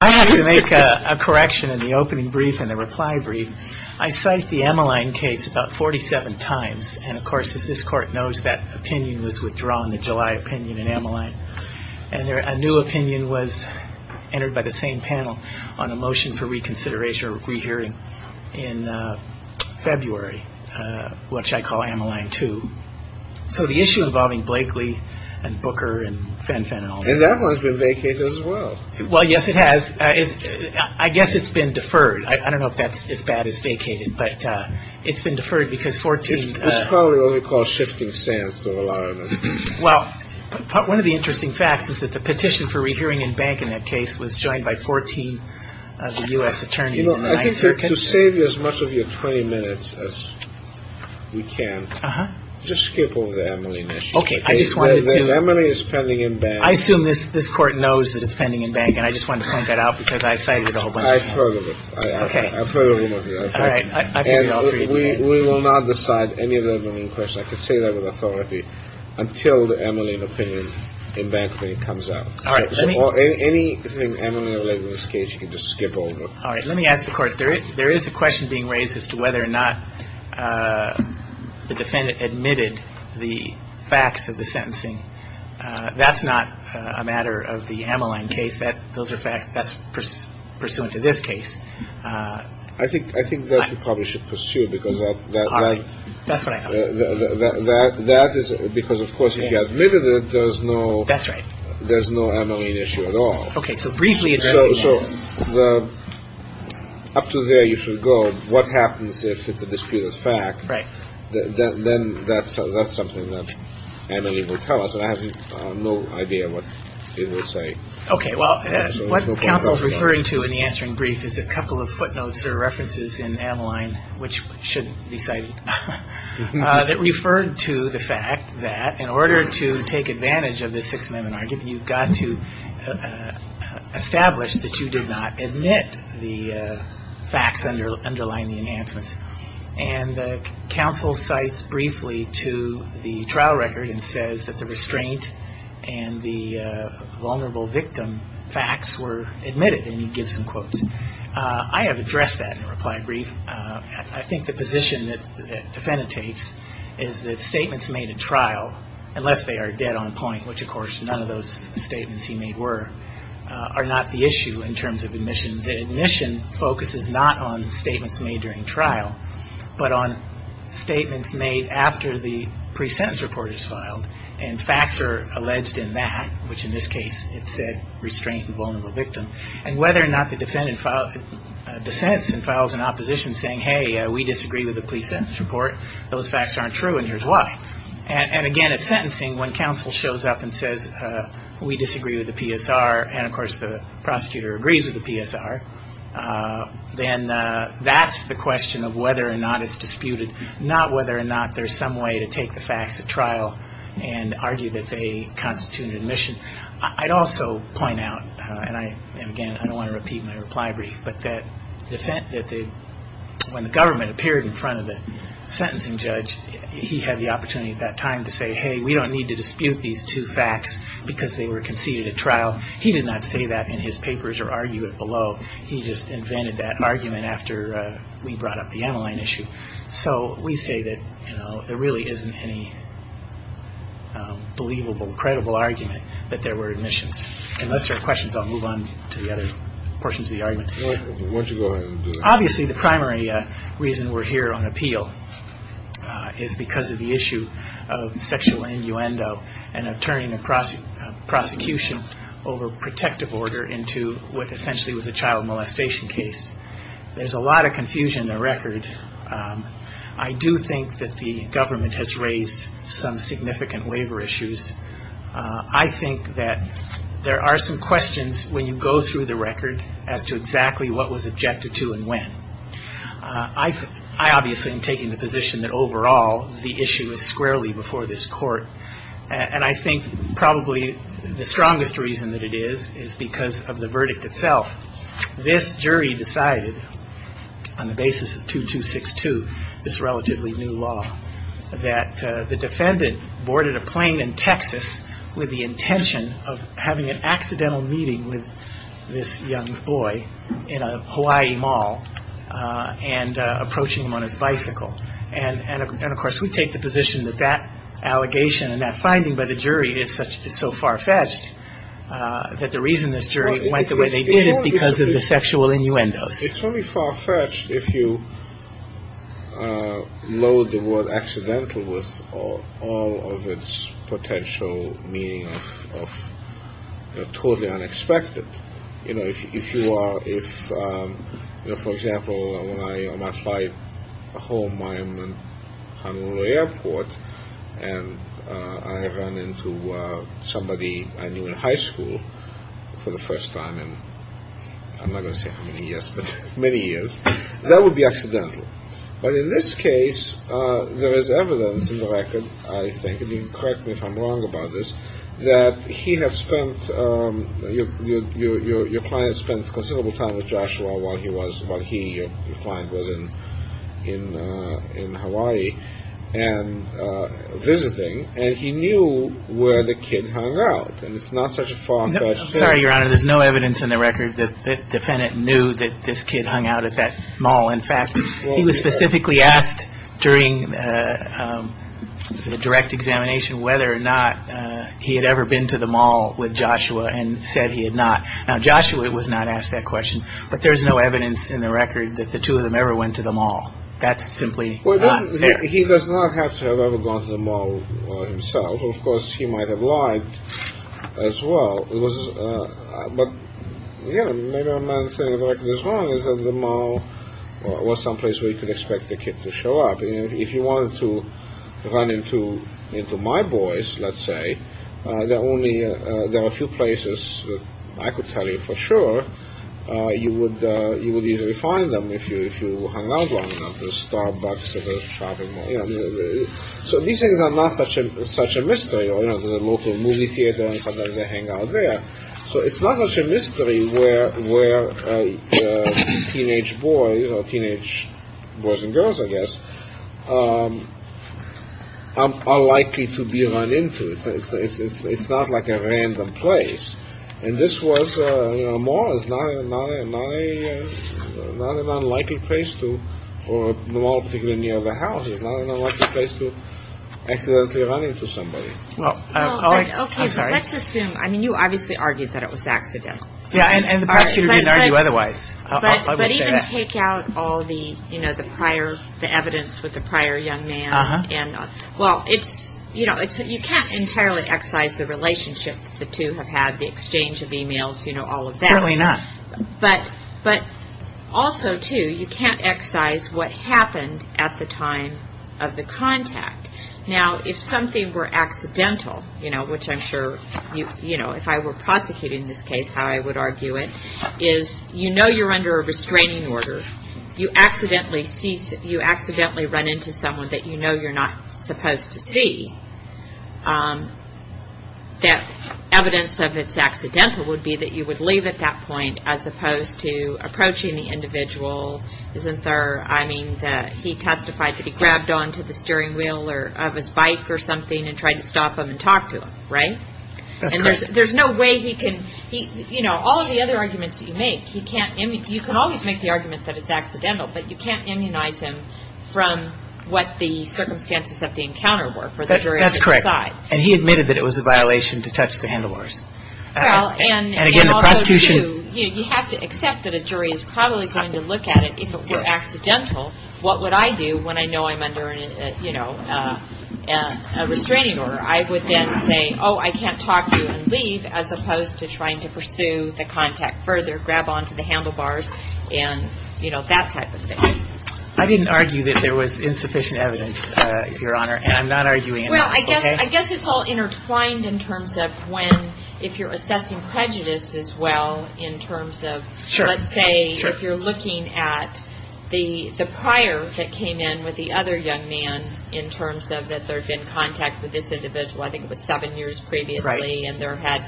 I have to make a correction in the opening brief and the reply brief. I cite the Ammaline case about 47 times, and of course, as this court knows, that opinion was withdrawn, the July opinion in Ammaline. And a new opinion was entered by the same panel on a motion for reconsideration or re-hearing in February, which I call Ammaline 2. So the issue involving Blakely and Booker and Fenfen and all that. And that one's been vacated as well. Well, yes, it has. I guess it's been deferred. I don't know if that's as bad as vacated, but it's been deferred because 14. It's probably what we call shifting sands to rely on. Well, one of the interesting facts is that the petition for re-hearing in Bank in that case was joined by 14 of the U.S. attorneys. You know, to save you as much of your 20 minutes as we can, just skip over the Ammaline issue. Okay. I just wanted to. The Ammaline is pending in Bank. I assume this court knows that it's pending in Bank, and I just wanted to point that out because I've cited it a whole bunch of times. I've heard of it. Okay. I've heard of it. All right. I've heard it all three times. And we will not decide any of the Ammaline questions. I can say that with authority, until the Ammaline opinion in Bankly comes out. All right. Or anything Ammaline-related in this case, you can just skip over. All right. Let me ask the Court. There is a question being raised as to whether or not the defendant admitted the facts of the sentencing. That's not a matter of the Ammaline case. Those are facts that's pursuant to this case. I think that you probably should pursue because that is because, of course, if you admitted it, there's no Ammaline issue at all. So up to there you should go. What happens if it's a disputed fact? Right. Then that's something that Ammaline will tell us. And I have no idea what it will say. Okay. Well, what counsel is referring to in the answering brief is a couple of footnotes or references in Ammaline, which shouldn't be cited, that referred to the fact that in order to take advantage of the Sixth Amendment argument, you've got to establish that you did not admit the facts underlying the enhancements. And counsel cites briefly to the trial record and says that the restraint and the vulnerable victim facts were admitted. And he gives some quotes. I have addressed that in a reply brief. I think the position that the defendant takes is that statements made at trial, unless they are dead on point, which of course none of those statements he made were, are not the issue in terms of admission. That admission focuses not on statements made during trial, but on statements made after the pre-sentence report is filed. And facts are alleged in that, which in this case it said restraint and vulnerable victim. And whether or not the defendant dissents and files an opposition saying, hey, we disagree with the pre-sentence report, those facts aren't true and here's why. And again, at sentencing, when counsel shows up and says, we disagree with the PSR, and of course the prosecutor agrees with the PSR, then that's the question of whether or not it's disputed, not whether or not there's some way to take the facts at trial and argue that they constitute an admission. I'd also point out, and again, I don't want to repeat my reply brief, but that when the government appeared in front of the sentencing judge, he had the opportunity at that time to say, hey, we don't need to dispute these two facts because they were conceded at trial. He did not say that in his papers or argue it below. He just invented that argument after we brought up the Emeline issue. So we say that there really isn't any believable, credible argument that there were admissions. Unless there are questions, I'll move on to the other portions of the argument. Why don't you go ahead and do that? Obviously, the primary reason we're here on appeal is because of the issue of sexual innuendo and of turning a prosecution over protective order into what essentially was a child molestation case. There's a lot of confusion in the record. I do think that the government has raised some significant waiver issues. I think that there are some questions when you go through the record as to exactly what was objected to and when. I obviously am taking the position that overall the issue is squarely before this court, and I think probably the strongest reason that it is is because of the verdict itself. This jury decided on the basis of 2262, this relatively new law, that the defendant boarded a plane in Texas with the intention of having an accidental meeting with this young boy in a Hawaii mall and approaching him on his bicycle. And, of course, we take the position that that allegation and that finding by the jury is so far-fetched that the reason this jury went the way they did is because of the sexual innuendos. It's only far-fetched if you load the word accidental with all of its potential meaning of totally unexpected. If, for example, when I fly home, I'm in Honolulu Airport, and I run into somebody I knew in high school for the first time in, I'm not going to say how many years, but many years, that would be accidental. But in this case, there is evidence in the record, I think, and you can correct me if I'm wrong about this, that he had spent, your client spent considerable time with Joshua while he was, while he, your client, was in Hawaii and visiting, and he knew where the kid hung out. And it's not such a far-fetched thing. I'm sorry, Your Honor. There's no evidence in the record that the defendant knew that this kid hung out at that mall. In fact, he was specifically asked during the direct examination whether or not he had ever been to the mall with Joshua and said he had not. Now, Joshua was not asked that question, but there's no evidence in the record that the two of them ever went to the mall. That's simply not fair. Well, he does not have to have ever gone to the mall himself. Of course, he might have lied as well. But, yeah, maybe I'm not saying the record is wrong. It's that the mall was some place where you could expect the kid to show up. If you wanted to run into my boys, let's say, there are only, there are a few places that I could tell you for sure you would easily find them if you hung out long enough at the Starbucks or the shopping mall. So these things are not such a mystery. There's a local movie theater and sometimes they hang out there. So it's not such a mystery where teenage boys or teenage boys and girls, I guess, are likely to be run into. It's not like a random place. And this was a mall. It's not an unlikely place to go, particularly near the house. It's not an unlikely place to accidentally run into somebody. Well, let's assume, I mean, you obviously argued that it was accidental. Yeah, and the prosecutor didn't argue otherwise. But even take out all the, you know, the prior, the evidence with the prior young man. Well, it's, you know, you can't entirely excise the relationship the two have had, the exchange of emails, you know, all of that. Certainly not. But also, too, you can't excise what happened at the time of the contact. Now, if something were accidental, you know, which I'm sure, you know, if I were prosecuting this case, how I would argue it, is you know you're under a restraining order. You accidentally run into someone that you know you're not supposed to see. That evidence of it's accidental would be that you would leave at that point as opposed to approaching the individual. Isn't there, I mean, he testified that he grabbed onto the steering wheel of his bike or something and tried to stop him and talk to him, right? That's correct. You know, all of the other arguments that you make, you can always make the argument that it's accidental, but you can't immunize him from what the circumstances of the encounter were for the jury to decide. That's correct. And he admitted that it was a violation to touch the handlebars. Well, and also, too, you have to accept that a jury is probably going to look at it. If it were accidental, what would I do when I know I'm under, you know, a restraining order? I would then say, oh, I can't talk to you and leave, as opposed to trying to pursue the contact further, grab onto the handlebars and, you know, that type of thing. I didn't argue that there was insufficient evidence, Your Honor, and I'm not arguing that. Well, I guess it's all intertwined in terms of when, if you're assessing prejudice as well, in terms of, let's say, if you're looking at the prior that came in with the other young man, in terms of that there had been contact with this individual, I think it was seven years previously, and there had,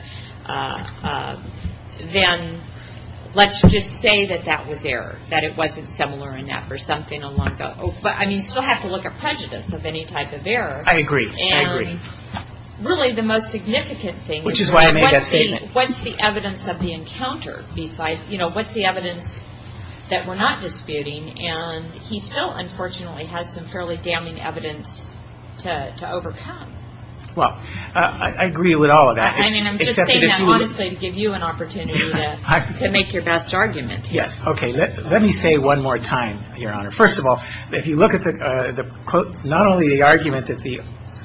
then let's just say that that was error, that it wasn't similar enough or something along those lines. But, I mean, you still have to look at prejudice of any type of error. I agree. I agree. And really the most significant thing is what's the evidence of the encounter besides, you know, what's the evidence that we're not disputing? And he still, unfortunately, has some fairly damning evidence to overcome. Well, I agree with all of that. I mean, I'm just saying that honestly to give you an opportunity to make your best argument. Yes. Okay. Let me say one more time, Your Honor. First of all, if you look at not only the argument that the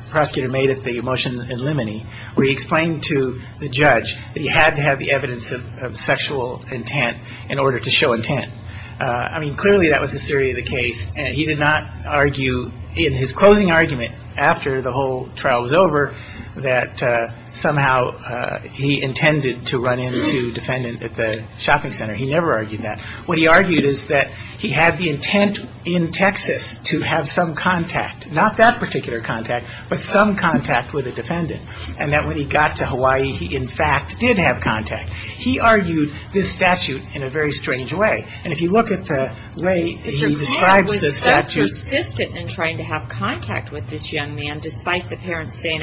prosecutor made at the motion in Limine, where he explained to the judge that he had to have the evidence of sexual intent in order to show intent. I mean, clearly that was his theory of the case. He did not argue in his closing argument after the whole trial was over that somehow he intended to run into a defendant at the shopping center. He never argued that. What he argued is that he had the intent in Texas to have some contact, not that particular contact, but some contact with a defendant, and that when he got to Hawaii, he, in fact, did have contact. He argued this statute in a very strange way. And if you look at the way he describes this statute. Mr. Gould was so persistent in trying to have contact with this young man, despite the parents saying,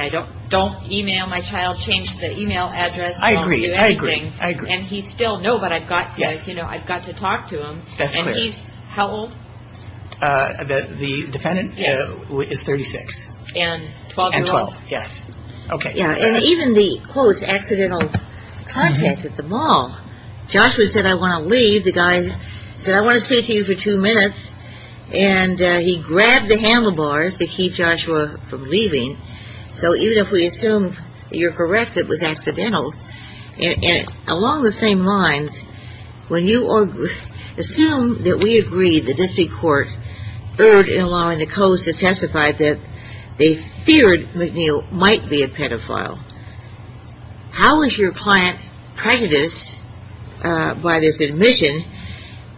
don't e-mail my child, change the e-mail address, don't do anything. I agree. I agree. I agree. And he still, no, but I've got to, you know, I've got to talk to him. That's clear. And he's how old? The defendant is 36. And 12-year-old. And 12. Yes. Okay. And even the, quote, accidental contact at the mall. Joshua said, I want to leave. The guy said, I want to speak to you for two minutes. And he grabbed the handlebars to keep Joshua from leaving. So even if we assume you're correct it was accidental, and along the same lines, when you assume that we agree the district court erred in allowing the coast to testify that they feared McNeil might be a pedophile. How is your client prejudiced by this admission,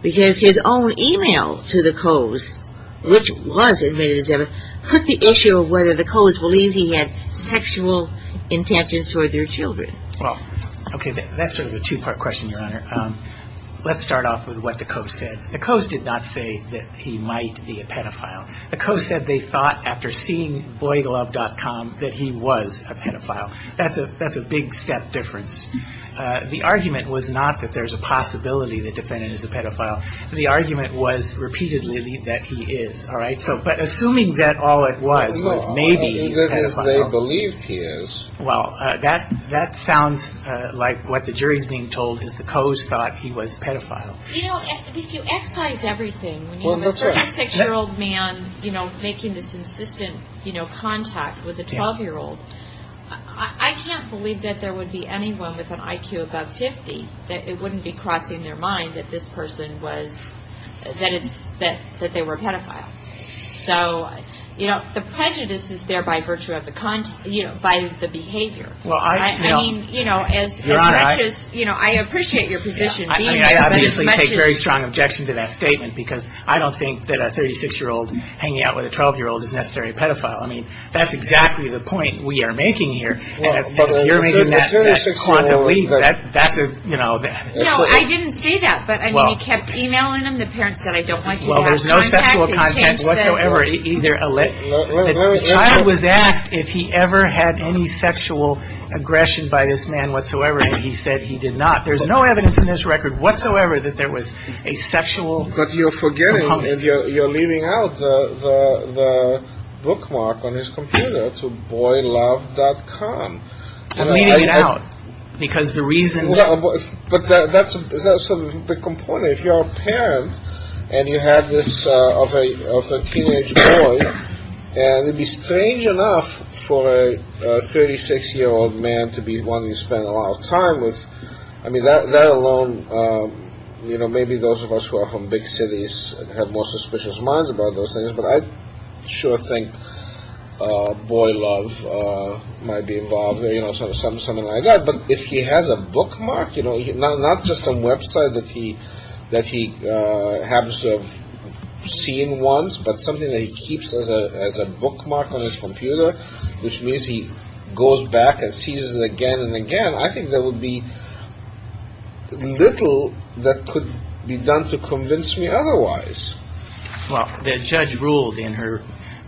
because his own e-mail to the coast, which was admitted as evidence, put the issue of whether the coast believed he had sexual intentions toward their children. Well, okay, that's sort of a two-part question, Your Honor. Let's start off with what the coast said. The coast did not say that he might be a pedophile. The coast said they thought, after seeing BoyGlove.com, that he was a pedophile. That's a big step difference. The argument was not that there's a possibility the defendant is a pedophile. The argument was repeatedly that he is. All right? But assuming that all it was was maybe he's a pedophile. As they believed he is. Well, that sounds like what the jury's being told is the coast thought he was a pedophile. You know, if you excise everything, when you have a 36-year-old man making this insistent contact with a 12-year-old, I can't believe that there would be anyone with an IQ above 50 that it wouldn't be crossing their mind that this person was, that they were a pedophile. So, you know, the prejudice is there by virtue of the behavior. Well, I mean, you know, as much as, you know, I appreciate your position. I obviously take very strong objection to that statement because I don't think that a 36-year-old hanging out with a 12-year-old is necessarily a pedophile. I mean, that's exactly the point we are making here. And if you're making that quantum leap, that's a, you know. No, I didn't say that. But, I mean, you kept emailing him. The parents said, I don't like you having contact. Well, there's no sexual contact whatsoever. The child was asked if he ever had any sexual aggression by this man whatsoever, and he said he did not. There's no evidence in this record whatsoever that there was a sexual... But you're forgetting, you're leaving out the bookmark on his computer to boylove.com. I'm leaving it out because the reason... But that's sort of the component. If you're a parent and you have this, of a teenage boy, and it would be strange enough for a 36-year-old man to be wanting to spend a lot of time with... I mean, that alone, you know, maybe those of us who are from big cities have more suspicious minds about those things. But I sure think boy love might be involved there, you know, something like that. But if he has a bookmark, you know, not just a website that he happens to have seen once, but something that he keeps as a bookmark on his computer, which means he goes back and sees it again and again, I think there would be little that could be done to convince me otherwise. Well, the judge ruled in her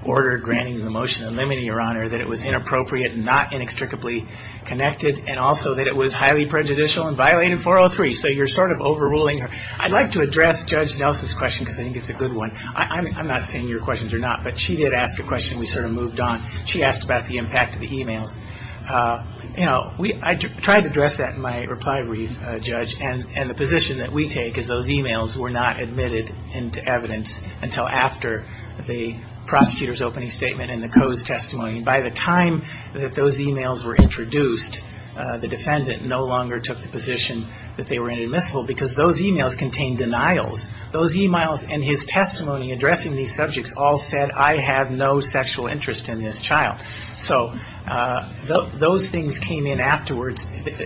order granting the motion and limiting your honor that it was inappropriate and not inextricably connected, and also that it was highly prejudicial and violated 403. So you're sort of overruling her. I'd like to address Judge Nelson's question because I think it's a good one. I'm not saying your questions are not, but she did ask a question. We sort of moved on. She asked about the impact of the e-mails. You know, I tried to address that in my reply brief, Judge, and the position that we take is those e-mails were not admitted into evidence until after the prosecutor's opening statement and the Coe's testimony. And by the time that those e-mails were introduced, the defendant no longer took the position that they were inadmissible because those e-mails contained denials. Those e-mails and his testimony addressing these subjects all said, I have no sexual interest in this child. So those things came in afterwards.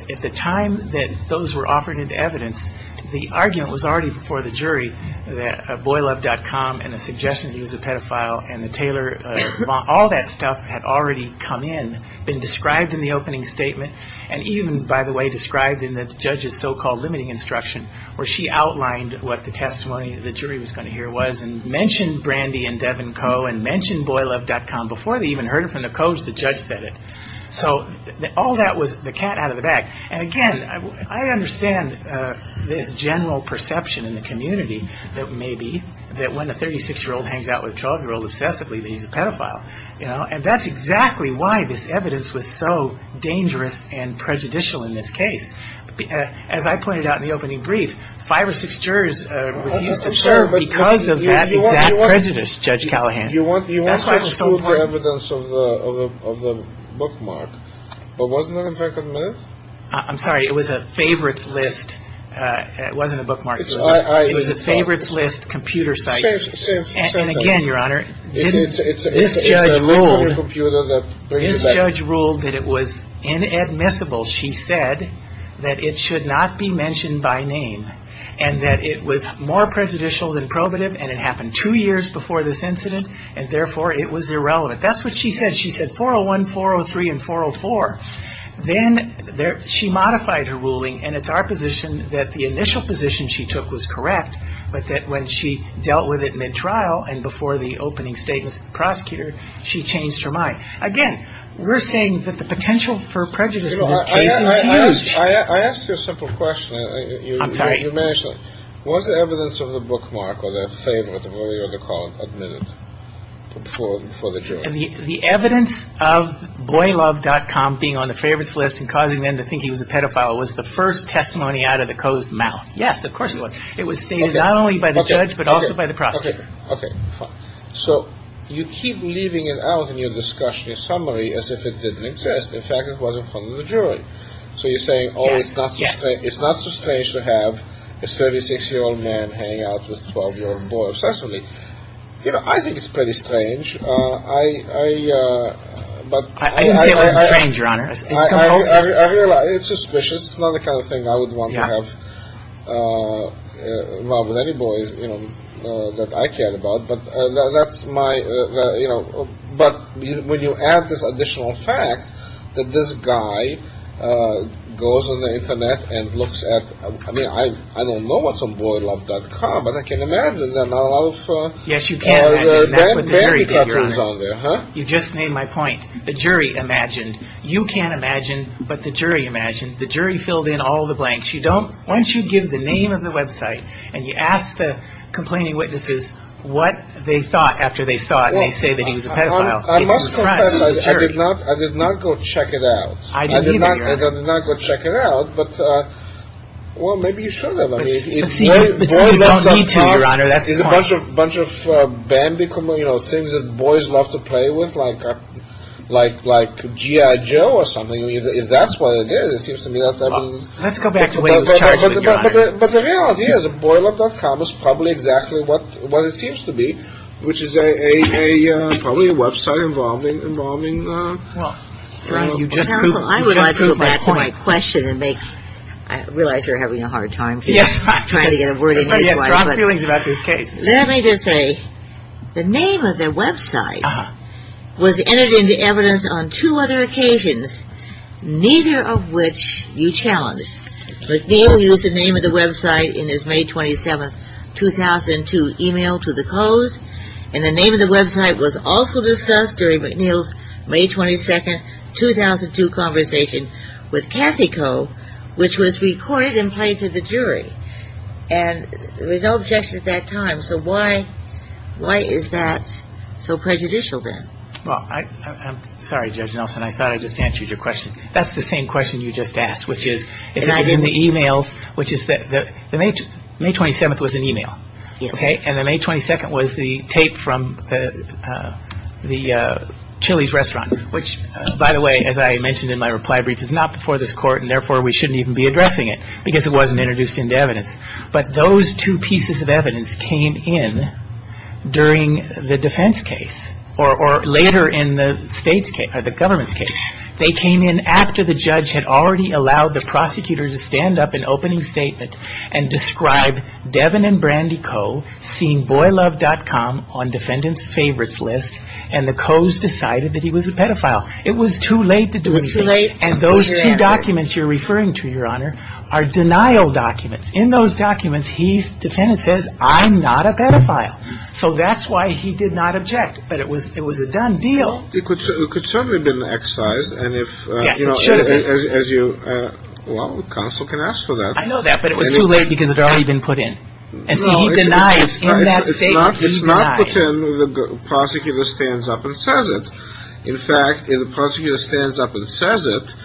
At the time that those were offered into evidence, the argument was already before the jury that boylove.com and the suggestion that he was a pedophile and the Taylor bond, all that stuff had already come in, been described in the opening statement, and even, by the way, described in the judge's so-called limiting instruction where she outlined what the testimony the jury was going to hear was and mentioned Brandy and Devin Coe and mentioned boylove.com. Before they even heard it from the Coe's, the judge said it. So all that was the cat out of the bag. And again, I understand this general perception in the community that maybe that when a 36-year-old hangs out with a 12-year-old obsessively that he's a pedophile. And that's exactly why this evidence was so dangerous and prejudicial in this case. As I pointed out in the opening brief, five or six jurors refused to serve because of that exact prejudice, Judge Callahan. You want to prove the evidence of the bookmark, but wasn't that in fact admissible? I'm sorry. It was a favorites list. It wasn't a bookmark. It was a favorites list computer site. And again, Your Honor, this judge ruled that it was inadmissible. She said that it should not be mentioned by name and that it was more prejudicial than probative and it happened two years before this incident and therefore it was irrelevant. That's what she said. She said 401, 403, and 404. Then she modified her ruling, and it's our position that the initial position she took was correct, but that when she dealt with it mid-trial and before the opening statement to the prosecutor, she changed her mind. Again, we're saying that the potential for prejudice in this case is huge. I asked you a simple question. I'm sorry. You mentioned it. Was the evidence of the bookmark or the favorites earlier in the call admitted before the jury? The evidence of boylove.com being on the favorites list and causing them to think he was a pedophile was the first testimony out of the Coe's mouth. Yes, of course it was. It was stated not only by the judge but also by the prosecutor. Okay, fine. So you keep leaving it out in your discussion, your summary, as if it didn't exist. In fact, it wasn't from the jury. So you're saying, oh, it's not so strange to have a 36-year-old man hang out with a 12-year-old boy obsessively. You know, I think it's pretty strange. I didn't say it wasn't strange, Your Honor. I realize it's suspicious. It's not the kind of thing I would want to have involved with any boys, you know, that I cared about. But that's my, you know. But when you add this additional fact that this guy goes on the Internet and looks at, I mean, I don't know what's on boylove.com, but I can imagine there are not a lot of bad bandicoots on there, huh? You just made my point. The jury imagined. You can't imagine, but the jury imagined. The jury filled in all the blanks. Once you give the name of the website and you ask the complaining witnesses what they thought after they saw it, and they say that he was a pedophile, it's a crime. I must confess, I did not go check it out. I did not go check it out. But, well, maybe you should have. But see, you don't need to, Your Honor. That's the point. It's a bunch of bandicoot, you know, things that boys love to play with, like GI Joe or something. If that's what it is, it seems to me that's, I mean. Let's go back to when he was charged with a crime. But the real idea is that boylove.com is probably exactly what it seems to be, which is probably a website involving a criminal. Well, I would like to go back to my question and make, I realize you're having a hard time trying to get a word in here, but let me just say, the name of the website was entered into evidence on two other occasions, neither of which you challenged. McNeil used the name of the website in his May 27, 2002 email to the Coe's, and the name of the website was also discussed during McNeil's May 22, 2002 conversation with Cathy Coe, which was recorded and played to the jury. And there was no objection at that time. So why is that so prejudicial then? Well, I'm sorry, Judge Nelson. I thought I just answered your question. That's the same question you just asked, which is in the emails, which is that the May 27 was an email. Yes. And the May 22 was the tape from the Chili's restaurant, which, by the way, as I mentioned in my reply brief, is not before this court, and therefore we shouldn't even be addressing it because it wasn't introduced into evidence. But those two pieces of evidence came in during the defense case, or later in the state's case, or the government's case. They came in after the judge had already allowed the prosecutor to stand up in opening statement and describe Devin and Brandy Coe seeing BoyLove.com on defendant's favorites list, and the Coe's decided that he was a pedophile. It was too late to do anything. It was too late. And those two documents you're referring to, Your Honor, are denial documents. In those documents, the defendant says, I'm not a pedophile. So that's why he did not object. But it was a done deal. It could certainly have been excised. Yes, it should have been. Well, the counsel can ask for that. I know that, but it was too late because it had already been put in. And so he denies. In that statement, he denies. It's not that the prosecutor stands up and says it. In fact, if the prosecutor stands up and says it,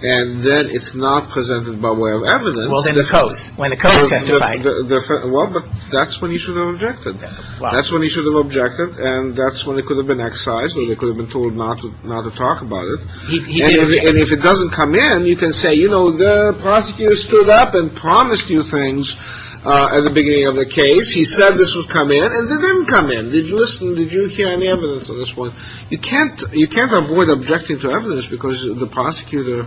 and then it's not presented by way of evidence. Well, then the Coe's. When the Coe's testified. Well, but that's when he should have objected. That's when he should have objected, and that's when it could have been excised or they could have been told not to talk about it. And if it doesn't come in, you can say, you know, the prosecutor stood up and promised you things at the beginning of the case. He said this would come in, and it didn't come in. Did you listen? Did you hear any evidence at this point? You can't avoid objecting to evidence because the prosecutor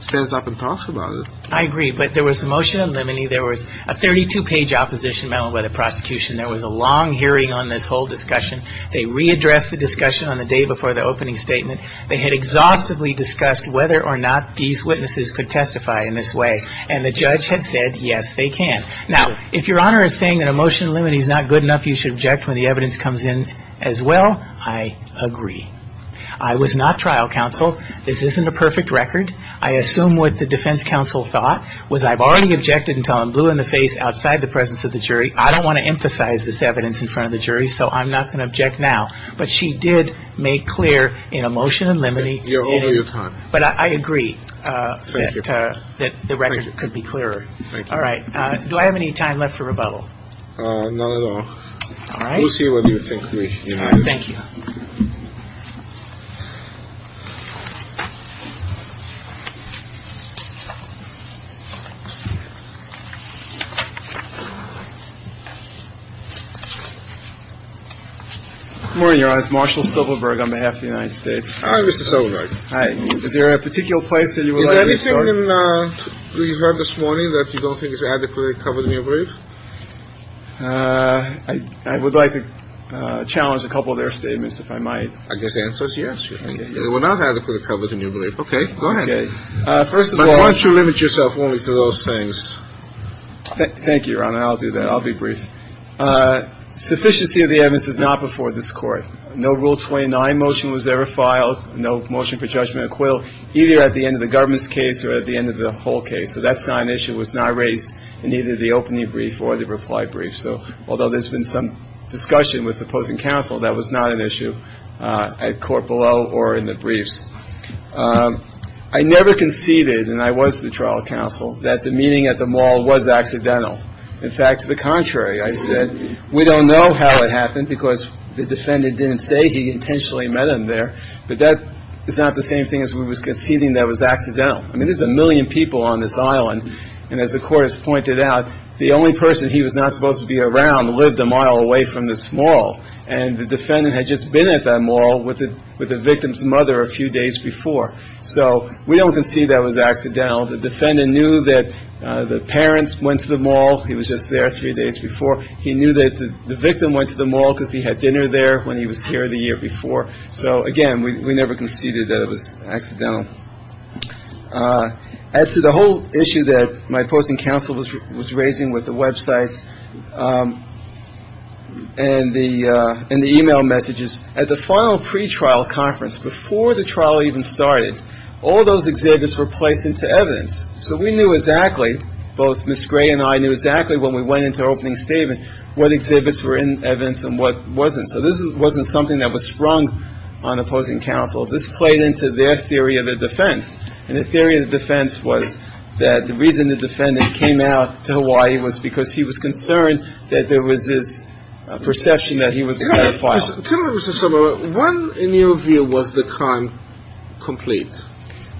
stands up and talks about it. I agree, but there was a motion in limine. There was a 32-page opposition memo by the prosecution. There was a long hearing on this whole discussion. They readdressed the discussion on the day before the opening statement. They had exhaustively discussed whether or not these witnesses could testify in this way, and the judge had said, yes, they can. Now, if Your Honor is saying that a motion in limine is not good enough, you should object when the evidence comes in as well. I agree. I was not trial counsel. This isn't a perfect record. I assume what the defense counsel thought was I've already objected until I'm blue in the face outside the presence of the jury. I don't want to emphasize this evidence in front of the jury, so I'm not going to object now. But she did make clear in a motion in limine. You're over your time. But I agree. Thank you. That the record could be clearer. Thank you. All right. Do I have any time left for rebuttal? Not at all. All right. We'll see what you think, Your Honor. Thank you. Good morning, Your Honor. This is Marshal Silverberg on behalf of the United States. Hi, Mr. Silverberg. Hi. Is there a particular place that you would like me to start? Is there anything in the record this morning that you don't think is adequately covered in your brief? First of all, I would like to challenge their statement. I guess the answer is yes. They were not adequately covered in your brief. Okay. Go ahead. Why don't you limit yourself only to those things? Thank you, Your Honor. I'll do that. I'll be brief. Sufficiency of the evidence is not before this Court. No Rule 29 motion was ever filed, no motion for judgment or acquittal, either at the end of the government's case or at the end of the whole case. So that's not an issue. It was not raised in either the opening brief or the reply brief. So although there's been some discussion with opposing counsel, that was not an issue at court below or in the briefs. I never conceded, and I was to the trial counsel, that the meeting at the mall was accidental. In fact, to the contrary, I said, we don't know how it happened because the defendant didn't say he intentionally met him there, but that is not the same thing as we were conceding that was accidental. I mean, there's a million people on this island. And as the Court has pointed out, the only person he was not supposed to be around lived a mile away from this mall, and the defendant had just been at that mall with the victim's mother a few days before. So we don't concede that was accidental. The defendant knew that the parents went to the mall. He was just there three days before. He knew that the victim went to the mall because he had dinner there when he was here the year before. So, again, we never conceded that it was accidental. As to the whole issue that my opposing counsel was raising with the Web sites and the e-mail messages, at the final pretrial conference, before the trial even started, all those exhibits were placed into evidence. So we knew exactly, both Ms. Gray and I knew exactly when we went into opening statement what exhibits were in evidence and what wasn't. So this wasn't something that was sprung on opposing counsel. This played into their theory of the defense. And the theory of the defense was that the reason the defendant came out to Hawaii was because he was concerned that there was this perception that he was a pedophile. Tell me, Mr. Somerville, when in your view was the crime complete?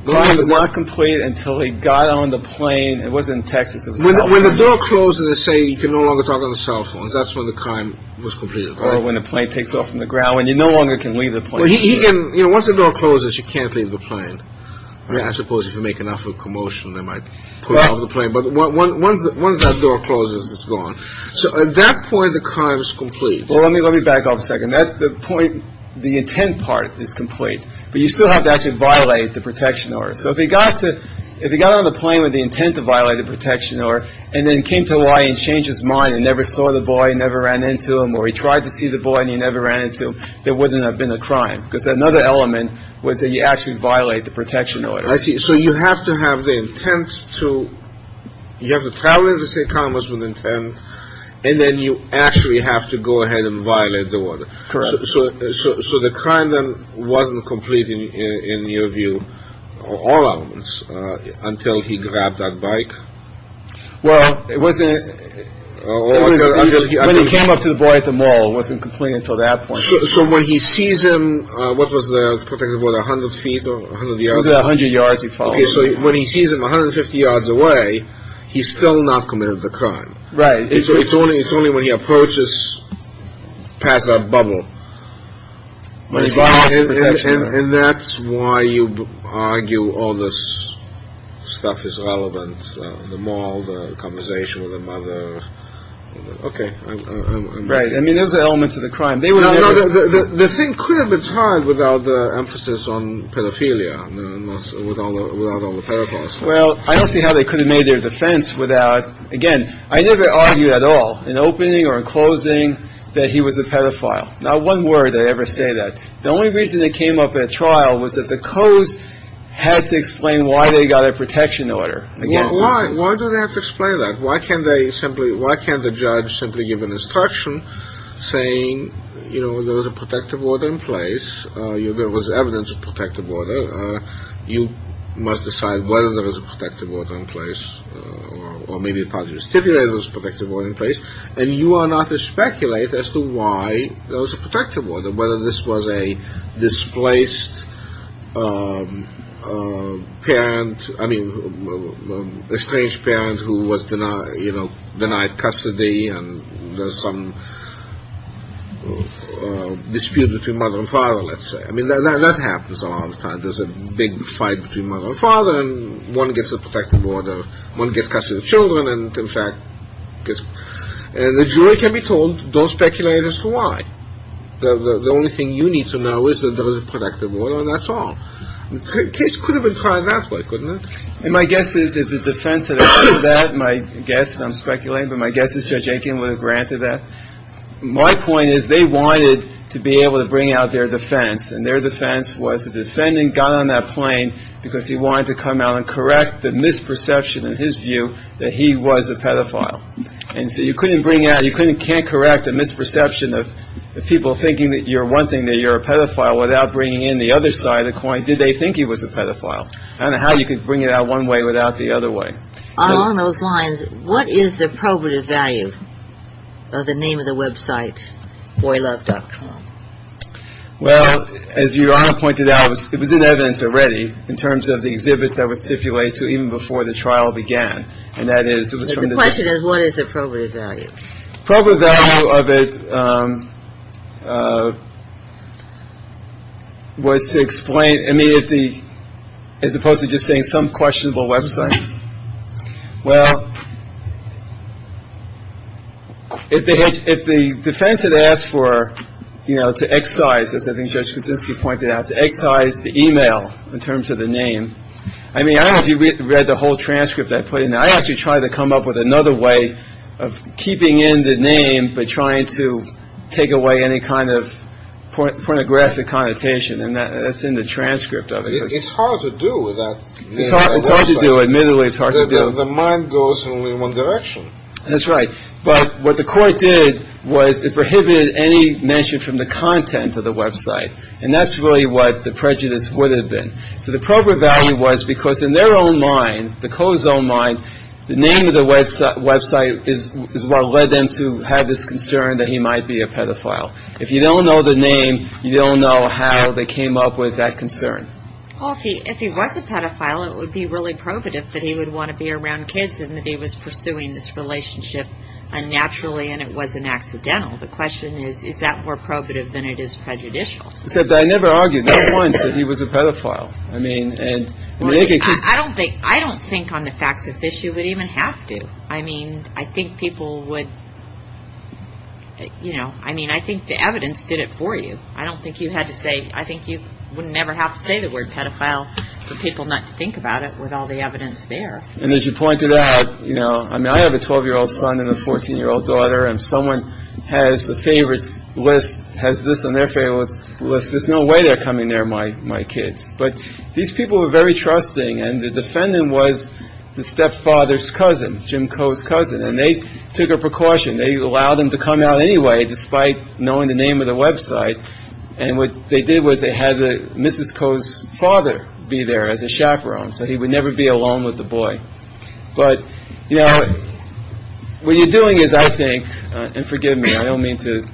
The crime was not complete until he got on the plane. It wasn't in Texas. When the door closed and they say you can no longer talk on the cell phones, that's when the crime was completed, right? Or when the plane takes off from the ground when you no longer can leave the plane. Well, once the door closes, you can't leave the plane. I suppose if you make enough of a commotion, they might pull you off the plane. But once that door closes, it's gone. So at that point, the crime is complete. Well, let me let me back off a second. That's the point. The intent part is complete. But you still have to actually violate the protection order. So if he got to if he got on the plane with the intent to violate the protection order and then came to Hawaii and changed his mind and never saw the boy, never ran into him, or he tried to see the boy and he never ran into him, there wouldn't have been a crime. Because another element was that you actually violate the protection order. I see. So you have to have the intent to you have to travel to St. Thomas with intent, and then you actually have to go ahead and violate the order. Correct. So the crime then wasn't complete in your view, all elements, until he grabbed that bike? Well, it wasn't. When he came up to the boy at the mall, it wasn't complete until that point. So when he sees him, what was the protected word? A hundred feet? A hundred yards. A hundred yards. So when he sees him 150 yards away, he's still not committed the crime. Right. So it's only it's only when he approaches past that bubble. And that's why you argue all this stuff is relevant. The mall, the conversation with the mother. Okay. Right. I mean, those are the elements of the crime. The thing could have been solved without the emphasis on pedophilia, without all the pedophiles. Well, I don't see how they could have made their defense without, again, I never argued at all in opening or in closing that he was a pedophile. Not one word I ever say that. The only reason they came up at trial was that the codes had to explain why they got a protection order. Why? Why do they have to explain that? Why can't they simply, why can't the judge simply give an instruction saying, you know, there was a protective order in place, there was evidence of protective order, you must decide whether there was a protective order in place, or maybe the part you stipulated was a protective order in place, and you are not to speculate as to why there was a protective order, whether this was a displaced parent, I mean, estranged parent who was denied custody, and there's some dispute between mother and father, let's say. I mean, that happens a lot of the time. There's a big fight between mother and father, and one gets a protective order, one gets custody of children, and, in fact, the jury can be told, don't speculate as to why. The only thing you need to know is that there was a protective order, and that's all. The case could have been tried that way, couldn't it? And my guess is that the defense that accepted that, my guess, and I'm speculating, but my guess is Judge Aitken would have granted that. My point is they wanted to be able to bring out their defense, and their defense was the defendant got on that plane because he wanted to come out and correct the misperception, in his view, that he was a pedophile. And so you couldn't bring out, you can't correct the misperception of people thinking that you're one thing, that you're a pedophile, without bringing in the other side of the coin, did they think he was a pedophile. I don't know how you could bring it out one way without the other way. Along those lines, what is the probative value of the name of the website, boylove.com? Well, as Your Honor pointed out, it was in evidence already, in terms of the exhibits that were stipulated even before the trial began. The question is, what is the probative value? Probative value of it was to explain, as opposed to just saying some questionable website. Well, if the defense had asked for, you know, to excise, as I think Judge Kuczynski pointed out, to excise the e-mail in terms of the name, I mean, I don't know if you read the whole transcript I put in there. I actually tried to come up with another way of keeping in the name, but trying to take away any kind of pornographic connotation, and that's in the transcript of it. It's hard to do that. It's hard to do. Admittedly, it's hard to do. The mind goes in only one direction. That's right. But what the court did was it prohibited any mention from the content of the website, and that's really what the prejudice would have been. So the probative value was because in their own mind, the Coe's own mind, the name of the website is what led them to have this concern that he might be a pedophile. If you don't know the name, you don't know how they came up with that concern. Well, if he was a pedophile, it would be really probative that he would want to be around kids and that he was pursuing this relationship unnaturally and it wasn't accidental. The question is, is that more probative than it is prejudicial? But I never argued, not once, that he was a pedophile. I don't think on the facts of this you would even have to. I mean, I think people would, you know, I mean, I think the evidence did it for you. I don't think you had to say, I think you would never have to say the word pedophile for people not to think about it with all the evidence there. And as you pointed out, you know, I mean, I have a 12-year-old son and a 14-year-old daughter, and if someone has a favorites list, has this on their favorites list, there's no way they're coming near my kids. But these people were very trusting, and the defendant was the stepfather's cousin, Jim Coe's cousin, and they took a precaution. They allowed him to come out anyway despite knowing the name of the website. And what they did was they had Mrs. Coe's father be there as a chaperone, so he would never be alone with the boy. But, you know, what you're doing is, I think, and forgive me, I don't mean to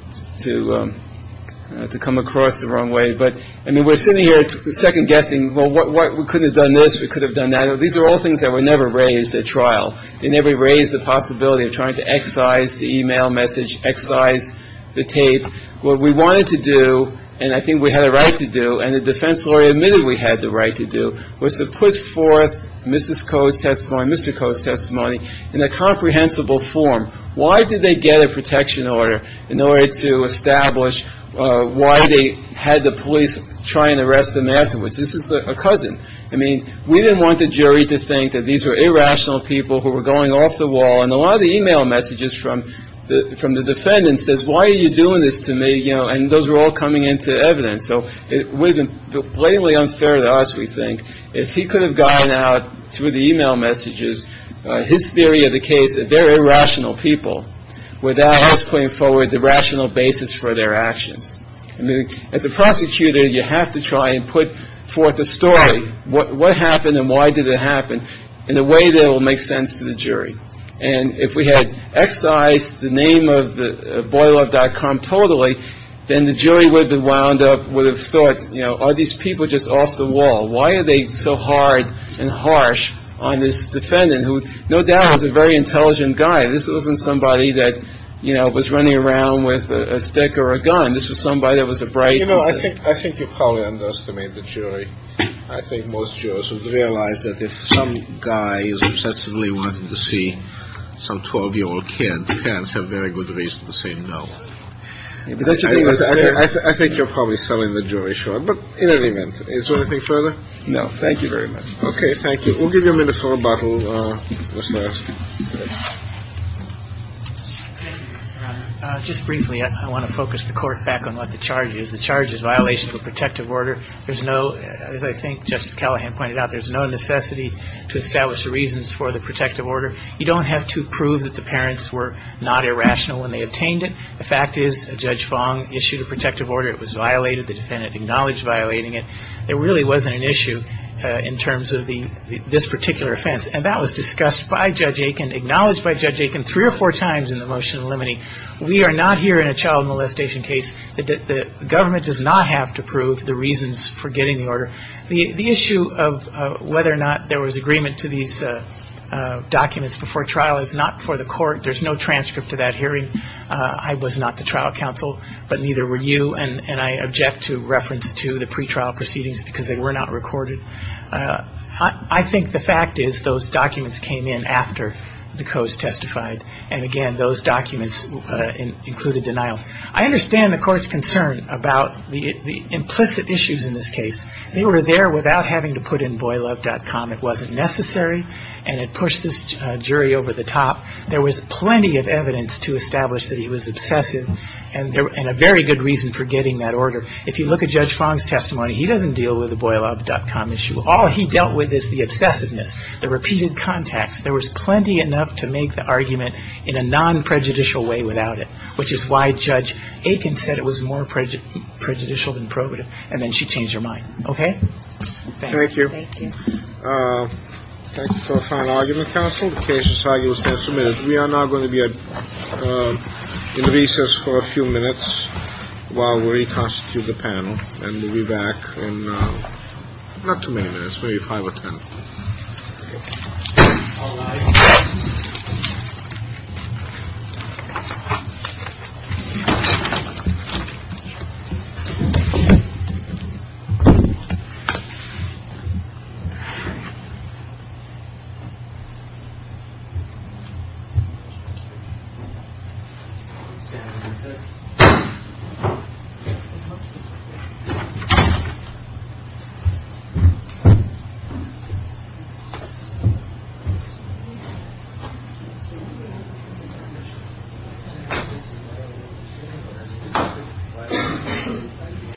come across the wrong way, but, I mean, we're sitting here second-guessing, well, we could have done this, we could have done that. These are all things that were never raised at trial. They never raised the possibility of trying to excise the e-mail message, excise the tape. What we wanted to do, and I think we had a right to do, and the defense lawyer admitted we had the right to do, was to put forth Mrs. Coe's testimony, Mr. Coe's testimony in a comprehensible form. Why did they get a protection order in order to establish why they had the police try and arrest them afterwards? This is a cousin. I mean, we didn't want the jury to think that these were irrational people who were going off the wall. And a lot of the e-mail messages from the defendant says, why are you doing this to me? And those were all coming into evidence. So it would have been blatantly unfair to us, we think, if he could have gotten out through the e-mail messages his theory of the case that they're irrational people without us putting forward the rational basis for their actions. I mean, as a prosecutor, you have to try and put forth a story. What happened and why did it happen in a way that will make sense to the jury? And if we had excised the name of BoyLove.com totally, then the jury would have been wound up, would have thought, you know, are these people just off the wall? Why are they so hard and harsh on this defendant who no doubt was a very intelligent guy? This wasn't somebody that, you know, was running around with a stick or a gun. This was somebody that was a bright. You know, I think you probably underestimate the jury. I think most jurors would realize that if some guy is obsessively wanting to see some 12-year-old kid, parents have very good reason to say no. I think you're probably selling the jury short. But in any event, is there anything further? No. Thank you very much. Thank you. We'll give you a minute for rebuttal. Thank you, Your Honor. Just briefly, I want to focus the Court back on what the charge is. The charge is violation of a protective order. There's no, as I think Justice Callahan pointed out, there's no necessity to establish the reasons for the protective order. You don't have to prove that the parents were not irrational when they obtained it. The fact is Judge Fong issued a protective order. It was violated. The defendant acknowledged violating it. There really wasn't an issue in terms of this particular offense. And that was discussed by Judge Aiken, acknowledged by Judge Aiken, three or four times in the motion limiting. We are not here in a child molestation case. The government does not have to prove the reasons for getting the order. The issue of whether or not there was agreement to these documents before trial is not for the Court. There's no transcript to that hearing. I was not the trial counsel, but neither were you, and I object to reference to the pretrial proceedings because they were not recorded. I think the fact is those documents came in after the Coase testified. And, again, those documents included denials. I understand the Court's concern about the implicit issues in this case. They were there without having to put in boylove.com. It wasn't necessary, and it pushed this jury over the top. There was plenty of evidence to establish that he was obsessive and a very good reason for getting that order. If you look at Judge Fong's testimony, he doesn't deal with the boylove.com issue. All he dealt with is the obsessiveness, the repeated contacts. There was plenty enough to make the argument in a non-prejudicial way without it, which is why Judge Aiken said it was more prejudicial than probative, and then she changed her mind. Okay? Thank you. Thank you. Thank you. Thank you for a fine argument, counsel. The case is how you will stand for minutes. We are now going to be in recess for a few minutes while we reconstitute the panel, and we'll be back in not too many minutes, maybe five or ten. All rise. Thank you.